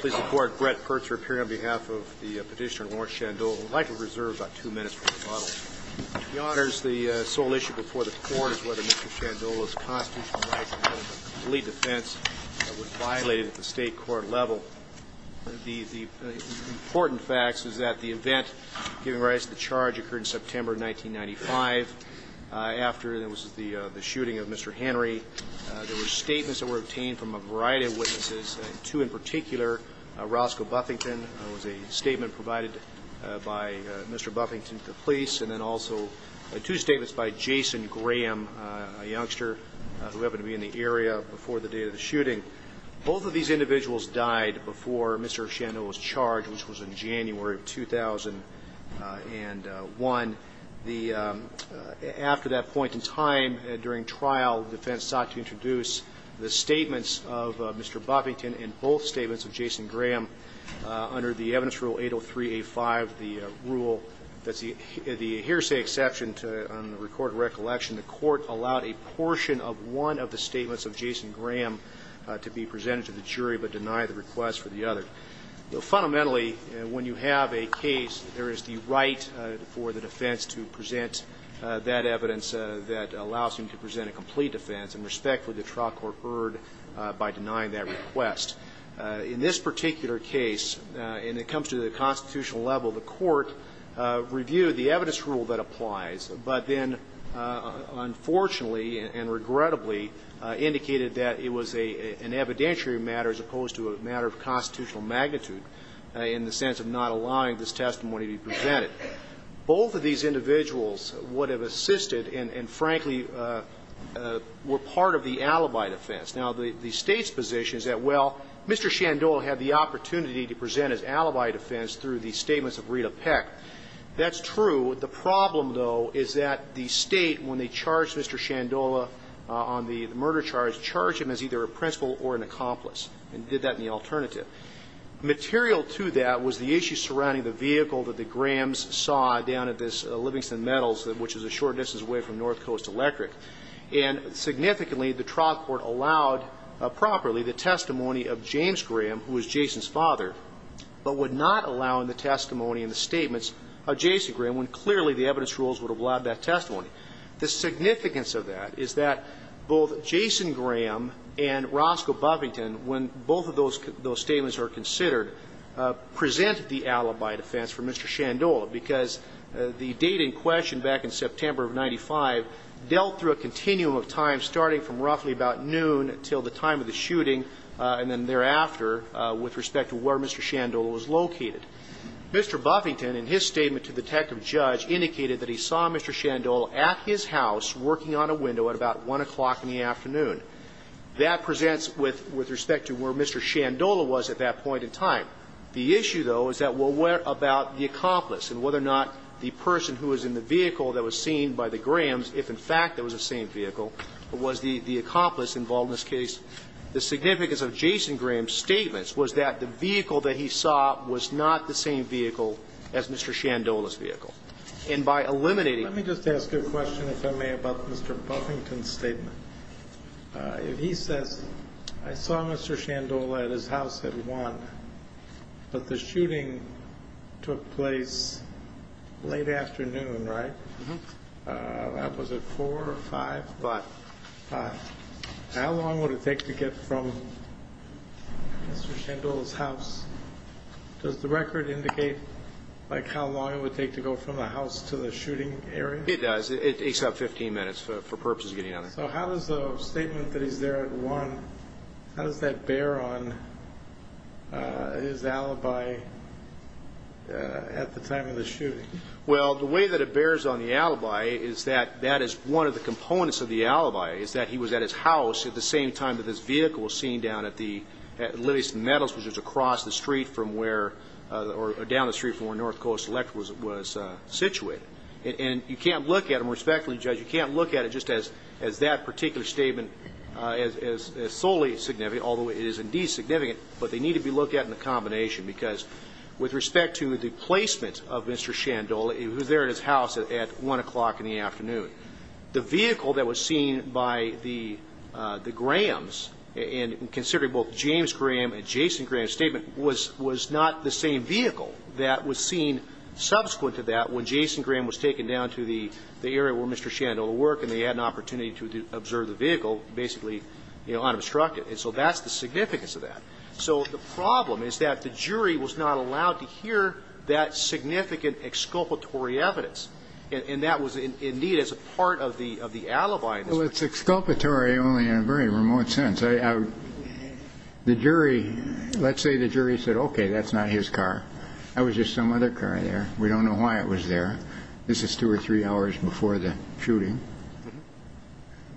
Please report, Brett Pertzer appearing on behalf of the petitioner Lawrence Shandola, who would like to reserve about two minutes for rebuttal. He honors the sole issue before the court as to whether Mr. Shandola's constitutional right to have a complete defense was violated at the state court level. The important facts is that the event giving rise to the charge occurred in September 1995 after the shooting of Mr. Henry. There were statements that were obtained from a variety of witnesses, two in particular. Roscoe Buffington was a statement provided by Mr. Buffington to the police. And then also two statements by Jason Graham, a youngster who happened to be in the area before the day of the shooting. Both of these individuals died before Mr. Shandola was charged, which was in January of 2001. After that point in time, during trial, defense sought to introduce the statements of Mr. Buffington and both statements of Jason Graham. Under the evidence rule 803A5, the rule, the hearsay exception to record recollection, the court allowed a portion of one of the statements of Jason Graham to be presented to the jury but denied the request for the other. Fundamentally, when you have a case, there is the right for the defense to present that evidence that allows him to present a complete defense, and respectfully, the trial court heard by denying that request. In this particular case, and it comes to the constitutional level, the court reviewed the evidence rule that applies, but then unfortunately and regrettably indicated that it was an evidentiary matter as opposed to a matter of constitutional magnitude in the sense of not allowing this testimony to be presented. Both of these individuals would have assisted and, frankly, were part of the alibi defense. Now, the State's position is that, well, Mr. Shandola had the opportunity to present his alibi defense through the statements of Rita Peck. That's true. The problem, though, is that the State, when they charged Mr. Shandola on the murder charge, charged him as either a principal or an accomplice and did that in the alternative. Material to that was the issue surrounding the vehicle that the Grahams saw down at this Livingston Metals, which is a short distance away from North Coast Electric. And significantly, the trial court allowed properly the testimony of James Graham, who was Jason's father, but would not allow in the testimony and the statements of Jason Graham when clearly the evidence rules would have allowed that testimony. The significance of that is that both Jason Graham and Roscoe Buffington, when both of those statements are considered, presented the alibi defense for Mr. Shandola because the date in question back in September of 95 dealt through a continuum of time starting from roughly about noon until the time of the shooting and then thereafter with respect to where Mr. Shandola was located. Mr. Buffington, in his statement to the detective judge, indicated that he saw Mr. Shandola at his house working on a window at about 1 o'clock in the afternoon. That presents with respect to where Mr. Shandola was at that point in time. The issue, though, is that what about the accomplice and whether or not the person who was in the vehicle that was seen by the Grahams, if, in fact, it was the same vehicle, was the accomplice involved in this case. The significance of Jason Graham's statements was that the vehicle that he saw was not the same vehicle as Mr. Shandola's vehicle. And by eliminating... Let me just ask you a question, if I may, about Mr. Buffington's statement. If he says, I saw Mr. Shandola at his house at 1, but the shooting took place late afternoon, right? Uh-huh. Was it 4 or 5? 5. 5. How long would it take to get from Mr. Shandola's house? Does the record indicate, like, how long it would take to go from the house to the shooting area? It takes about 15 minutes for purposes of getting out of there. So how does the statement that he's there at 1, how does that bear on his alibi at the time of the shooting? Well, the way that it bears on the alibi is that that is one of the components of the alibi, is that he was at his house at the same time that this vehicle was seen down at Lillieston Meadows, which is across the street from where, or down the street from where North Coast Electric was situated. And you can't look at them, respectfully, Judge, you can't look at it just as that particular statement is solely significant, although it is indeed significant, but they need to be looked at in a combination, because with respect to the placement of Mr. Shandola, he was there at his house at 1 o'clock in the afternoon. The vehicle that was seen by the Grahams, and considering both James Graham and Jason Graham's statement, it was not the same vehicle that was seen subsequent to that when Jason Graham was taken down to the area where Mr. Shandola worked and they had an opportunity to observe the vehicle, basically unobstructed. And so that's the significance of that. So the problem is that the jury was not allowed to hear that significant exculpatory evidence, and that was indeed as a part of the alibi. Well, it's exculpatory only in a very remote sense. The jury, let's say the jury said, okay, that's not his car. That was just some other car there. We don't know why it was there. This is two or three hours before the shooting.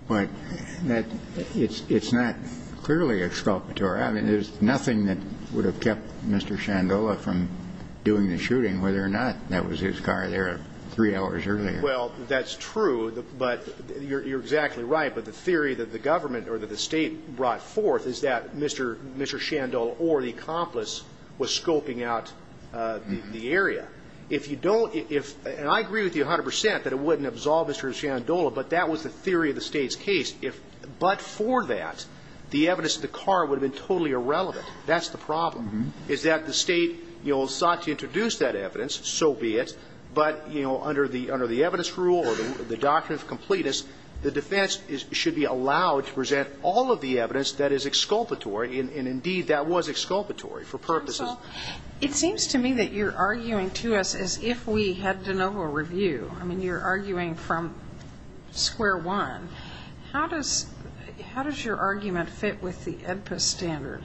But it's not clearly exculpatory. I mean, there's nothing that would have kept Mr. Shandola from doing the shooting, whether or not that was his car there three hours earlier. Well, that's true, but you're exactly right. But the theory that the government or that the State brought forth is that Mr. Shandola or the accomplice was scoping out the area. If you don't – and I agree with you 100% that it wouldn't absolve Mr. Shandola, but that was the theory of the State's case. But for that, the evidence of the car would have been totally irrelevant. That's the problem, is that the State, you know, sought to introduce that evidence, so be it, but, you know, under the evidence rule or the doctrine of completeness, the defense should be allowed to present all of the evidence that is exculpatory. And, indeed, that was exculpatory for purposes. Counsel, it seems to me that you're arguing to us as if we had de novo review. I mean, you're arguing from square one. How does your argument fit with the AEDPA standard?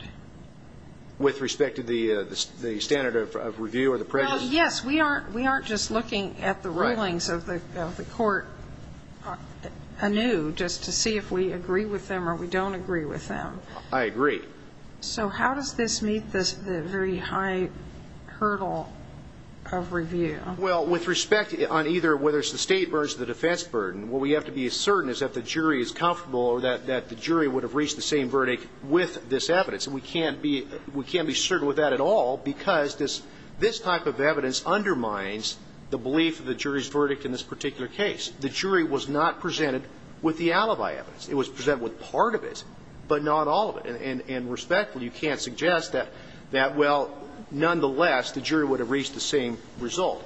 With respect to the standard of review or the prejudice? Well, yes, we aren't just looking at the rulings of the court anew just to see if we agree with them or we don't agree with them. I agree. So how does this meet the very high hurdle of review? Well, with respect on either whether it's the State or it's the defense burden, what we have to be certain is that the jury is comfortable or that the jury would have reached the same verdict with this evidence. And we can't be certain with that at all because this type of evidence undermines the belief of the jury's verdict in this particular case. The jury was not presented with the alibi evidence. It was presented with part of it, but not all of it. And respectfully, you can't suggest that, well, nonetheless, the jury would have reached the same result.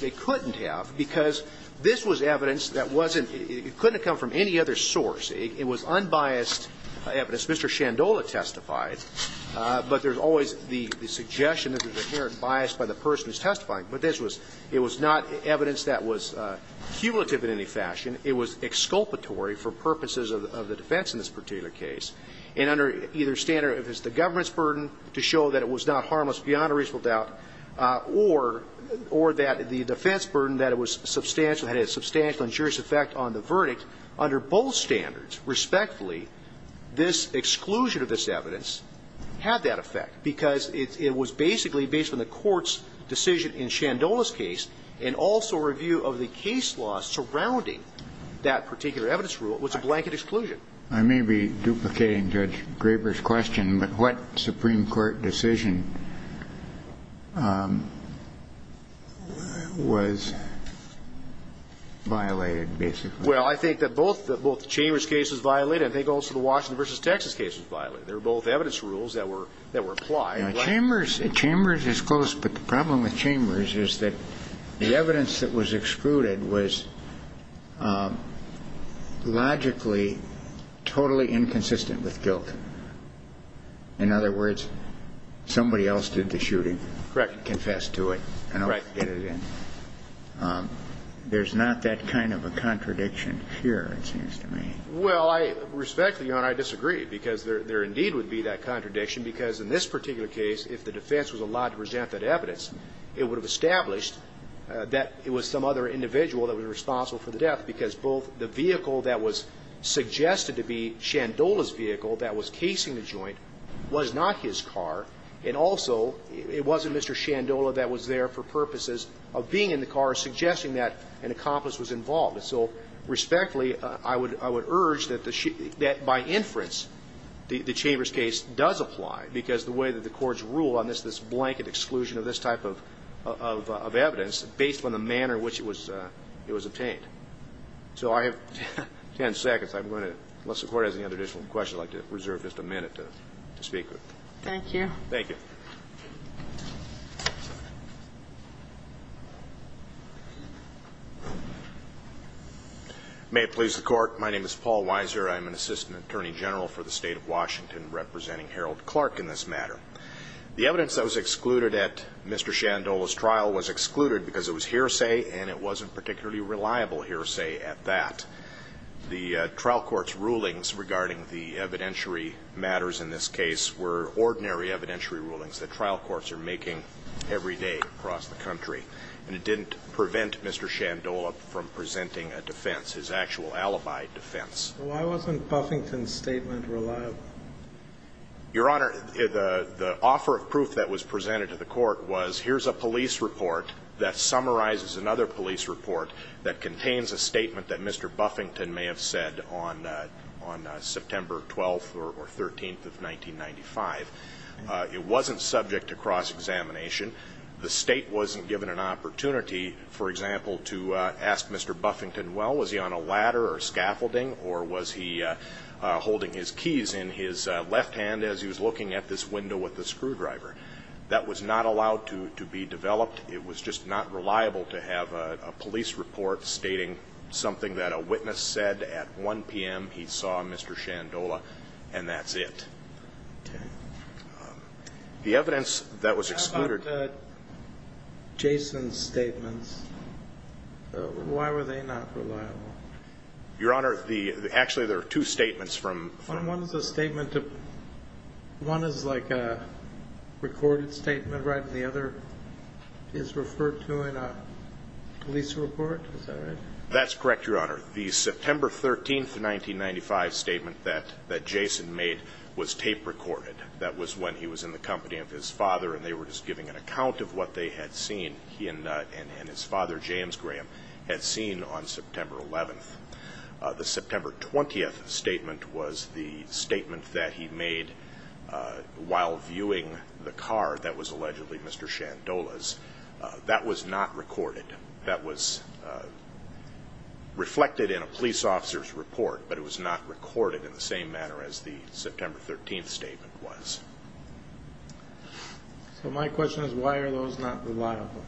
They couldn't have because this was evidence that wasn't – it couldn't have come from any other source. It was unbiased evidence. Mr. Shandola testified, but there's always the suggestion that there's inherent bias by the person who's testifying. But this was – it was not evidence that was cumulative in any fashion. It was exculpatory for purposes of the defense in this particular case. And under either standard, if it's the government's burden to show that it was not harmless beyond a reasonable doubt or that the defense burden that it was substantial had a substantial injurious effect on the verdict, under both standards, respectfully, this exclusion of this evidence had that effect because it was basically based on the Court's decision in Shandola's case and also a review of the case law surrounding that particular evidence rule. It was a blanket exclusion. I may be duplicating Judge Graber's question, but what Supreme Court decision was violated, basically? Well, I think that both the – both the Chambers case was violated. I think also the Washington v. Texas case was violated. They were both evidence rules that were – that were applied. Chambers – Chambers is close, but the problem with Chambers is that the evidence that was excluded was logically totally inconsistent with guilt. In other words, somebody else did the shooting. Correct. Confessed to it. Right. And there's not that kind of a contradiction here, it seems to me. Well, respectfully, Your Honor, I disagree because there indeed would be that contradiction because in this particular case, if the defense was allowed to present that evidence, it would have established that it was some other individual that was responsible for the death because both the vehicle that was suggested to be Shandola's vehicle that was casing the joint was not his car, and also it wasn't Mr. Shandola that was there for purposes of being in the car suggesting that an accomplice was involved. And so respectfully, I would – I would urge that the – that by inference, the Chambers case does apply because the way that the courts rule on this, this blanket exclusion of this type of – of evidence based on the manner in which it was – it was obtained. So I have 10 seconds. I'm going to – unless the Court has any other additional questions, I'd like to reserve just a minute to speak with you. Thank you. Thank you. May it please the Court, my name is Paul Weiser. I'm an Assistant Attorney General for the State of Washington, representing Harold Clark in this matter. The evidence that was excluded at Mr. Shandola's trial was excluded because it was hearsay and it wasn't particularly reliable hearsay at that. The trial court's rulings regarding the evidentiary matters in this case were extraordinary evidentiary rulings that trial courts are making every day across the country. And it didn't prevent Mr. Shandola from presenting a defense, his actual alibi defense. Why wasn't Buffington's statement reliable? Your Honor, the offer of proof that was presented to the Court was here's a police It wasn't subject to cross-examination. The State wasn't given an opportunity, for example, to ask Mr. Buffington, well, was he on a ladder or scaffolding or was he holding his keys in his left hand as he was looking at this window with the screwdriver. That was not allowed to be developed. It was just not reliable to have a police report stating something that a witness said at 1 p.m. he saw Mr. Shandola and that's it. Okay. The evidence that was excluded How about Jason's statements? Why were they not reliable? Your Honor, the actually there are two statements from One is a statement of, one is like a recorded statement, right? And the other is referred to in a police report? Is that right? That's correct, Your Honor. The September 13th, 1995, statement that Jason made was tape recorded. That was when he was in the company of his father and they were just giving an account of what they had seen, and his father, James Graham, had seen on September 11th. The September 20th statement was the statement that he made while viewing the car that was allegedly Mr. Shandola's. That was not recorded. That was reflected in a police officer's report, but it was not recorded in the same manner as the September 13th statement was. So my question is why are those not reliable?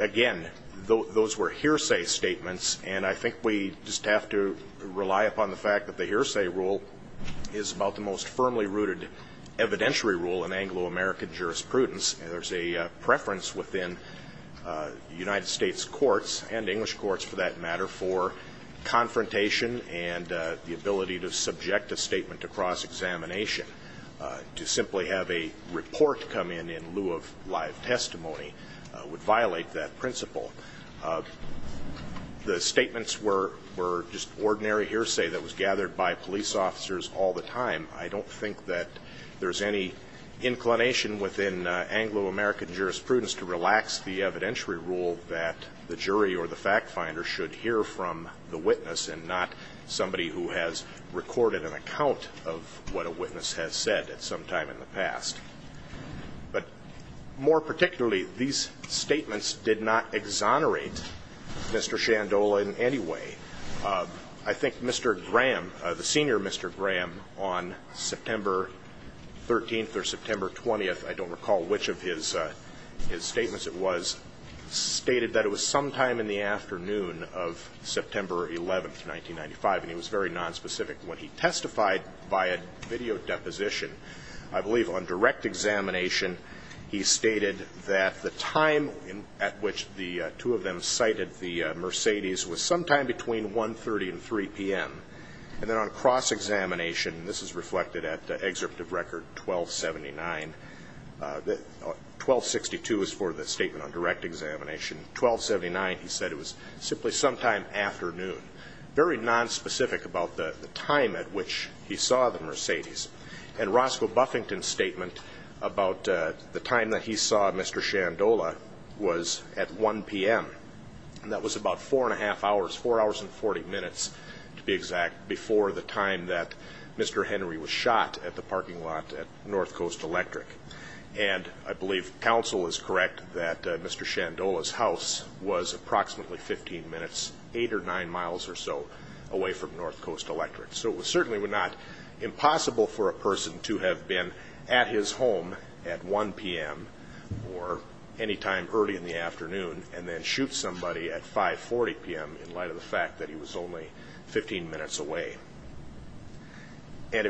Again, those were hearsay statements, and I think we just have to rely upon the fact that the hearsay rule is about the most firmly rooted evidentiary rule in Anglo-American jurisprudence. There's a preference within United States courts and English courts for that matter for confrontation and the ability to subject a statement to cross-examination. To simply have a report come in in lieu of live testimony would violate that principle. The statements were just ordinary hearsay that was gathered by police officers all the time. I don't think that there's any inclination within Anglo-American jurisprudence to relax the evidentiary rule that the jury or the fact finder should hear from the witness and not somebody who has recorded an account of what a witness has said at some time in the past. But more particularly, these statements did not exonerate Mr. Shandola in any way. I think Mr. Graham, the senior Mr. Graham, on September 13th or September 20th, I don't recall which of his statements it was, stated that it was sometime in the afternoon of September 11th, 1995, and he was very nonspecific. When he testified via video deposition, I believe on direct examination, he stated that the time at which the two of them cited the Mercedes was sometime between 1.30 and 3.00 p.m. And then on cross-examination, and this is reflected at the excerpt of record 12.79, 12.62 is for the statement on direct examination, 12.79 he said it was simply sometime afternoon, very nonspecific about the time at which he saw the Mercedes. And Roscoe Buffington's statement about the time that he saw Mr. Shandola was at 1.00 p.m. That was about four and a half hours, four hours and 40 minutes to be exact, before the time that Mr. Henry was shot at the parking lot at North Coast Electric. And I believe counsel is correct that Mr. Shandola's house was approximately 15 minutes, eight or nine miles or so away from North Coast Electric. So it was certainly not impossible for a person to have been at his home at 1.00 p.m. or any time early in the afternoon and then shoot somebody at 5.40 p.m. in light of the fact that he was only 15 minutes away. And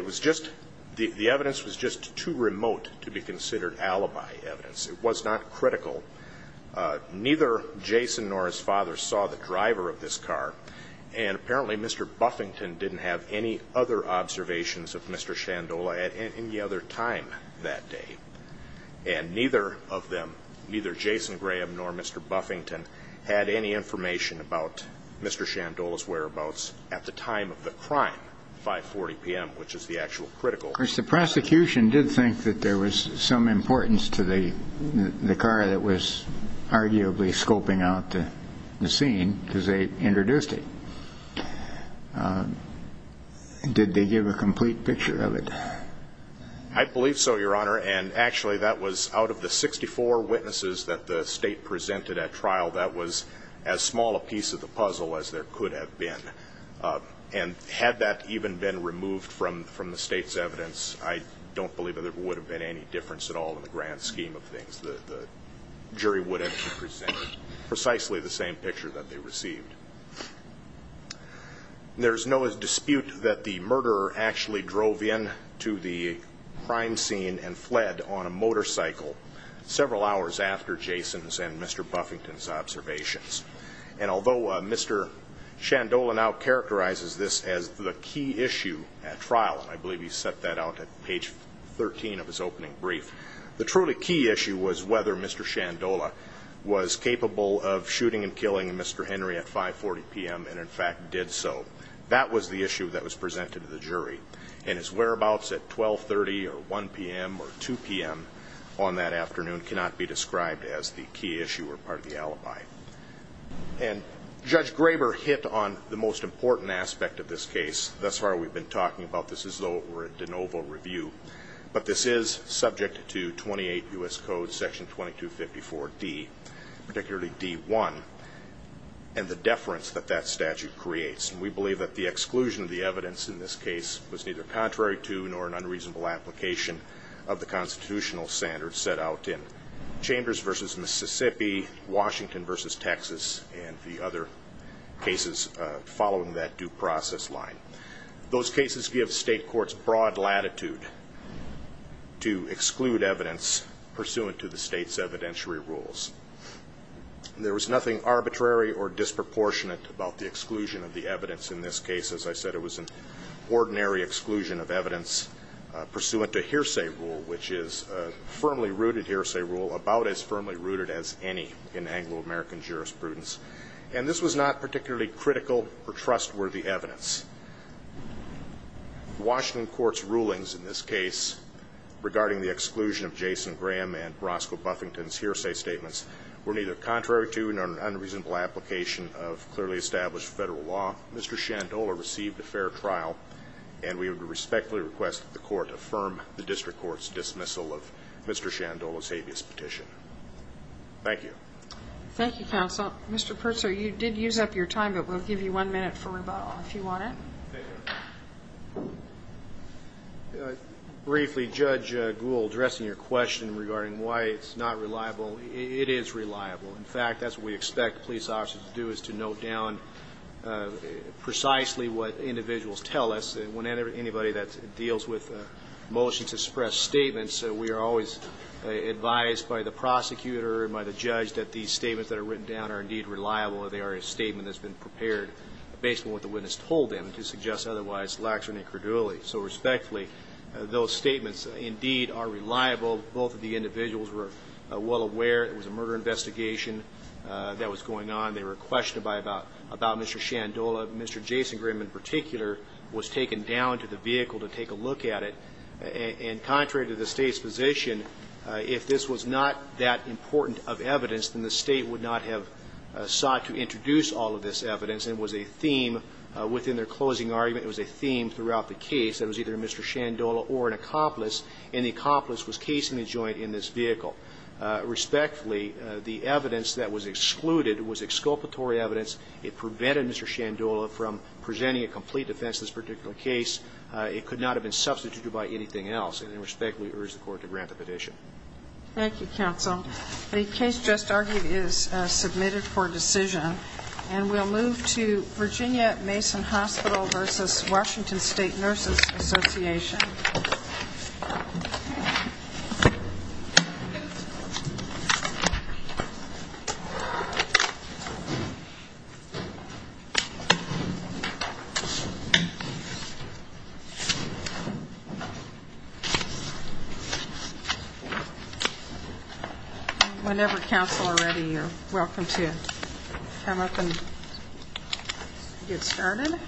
the evidence was just too remote to be considered alibi evidence. It was not critical. Neither Jason nor his father saw the driver of this car, and apparently Mr. Buffington didn't have any other observations of Mr. Shandola at any other time that day. And neither of them, neither Jason Graham nor Mr. Buffington, had any information about Mr. Shandola's whereabouts at the time of the crime, 5.40 p.m., which is the actual critical. The prosecution did think that there was some importance to the car that was arguably scoping out the scene because they introduced it. Did they give a complete picture of it? I believe so, Your Honor, and actually that was out of the 64 witnesses that the State presented at trial, that was as small a piece of the puzzle as there could have been. And had that even been removed from the State's evidence, I don't believe that there would have been any difference at all in the grand scheme of things. The jury would have presented precisely the same picture that they received. There's no dispute that the murderer actually drove in to the crime scene and fled on a motorcycle several hours after Jason's and Mr. Buffington's observations. And although Mr. Shandola now characterizes this as the key issue at trial, I believe he set that out at page 13 of his opening brief, the truly key issue was whether Mr. Shandola was capable of shooting and killing Mr. Henry at 5.40 p.m. and, in fact, did so. That was the issue that was presented to the jury, and his whereabouts at 12.30 or 1 p.m. or 2 p.m. on that afternoon cannot be described as the key issue or part of the alibi. And Judge Graber hit on the most important aspect of this case. Thus far we've been talking about this as though we're at de novo review, but this is subject to 28 U.S. Code Section 2254D, particularly D.1, and the deference that that statute creates. And we believe that the exclusion of the evidence in this case was neither contrary to nor an unreasonable application of the constitutional standards set out in Chambers v. Mississippi, Washington v. Texas, and the other cases following that due process line. Those cases give state courts broad latitude to exclude evidence pursuant to the state's evidentiary rules. There was nothing arbitrary or disproportionate about the exclusion of the evidence in this case. As I said, it was an ordinary exclusion of evidence pursuant to hearsay rule, which is a firmly rooted hearsay rule, about as firmly rooted as any in Anglo-American jurisprudence. And this was not particularly critical or trustworthy evidence. Washington Court's rulings in this case regarding the exclusion of Jason Graham and Roscoe Buffington's hearsay statements were neither contrary to nor an unreasonable application of clearly established federal law. Mr. Shandola received a fair trial, and we would respectfully request that the Court affirm the district court's dismissal of Mr. Shandola's habeas petition. Thank you. Thank you, counsel. Mr. Purtzer, you did use up your time, but we'll give you one minute for rebuttal if you want it. Thank you. Briefly, Judge Gould, addressing your question regarding why it's not reliable, it is reliable. In fact, that's what we expect police officers to do, is to note down precisely what individuals tell us. Anybody that deals with a motion to suppress statements, we are always advised by the prosecutor and by the judge that these statements that are written down are indeed reliable or they are a statement that's been prepared based on what the witness told them to suggest otherwise lax and incredulity. So respectfully, those statements indeed are reliable. Both of the individuals were well aware there was a murder investigation that was going on. They were questioned about Mr. Shandola. Mr. Jason Graham in particular was taken down to the vehicle to take a look at it. And contrary to the State's position, if this was not that important of evidence, then the State would not have sought to introduce all of this evidence. It was a theme within their closing argument. It was a theme throughout the case. It was either Mr. Shandola or an accomplice, and the accomplice was casing the joint in this vehicle. Respectfully, the evidence that was excluded was exculpatory evidence. It prevented Mr. Shandola from presenting a complete defense in this particular case. It could not have been substituted by anything else. And I respectfully urge the Court to grant the petition. Thank you, counsel. The case just argued is submitted for decision. And we'll move to Virginia Mason Hospital versus Washington State Nurses Association. Whenever counsel are ready, you're welcome to come up and get started.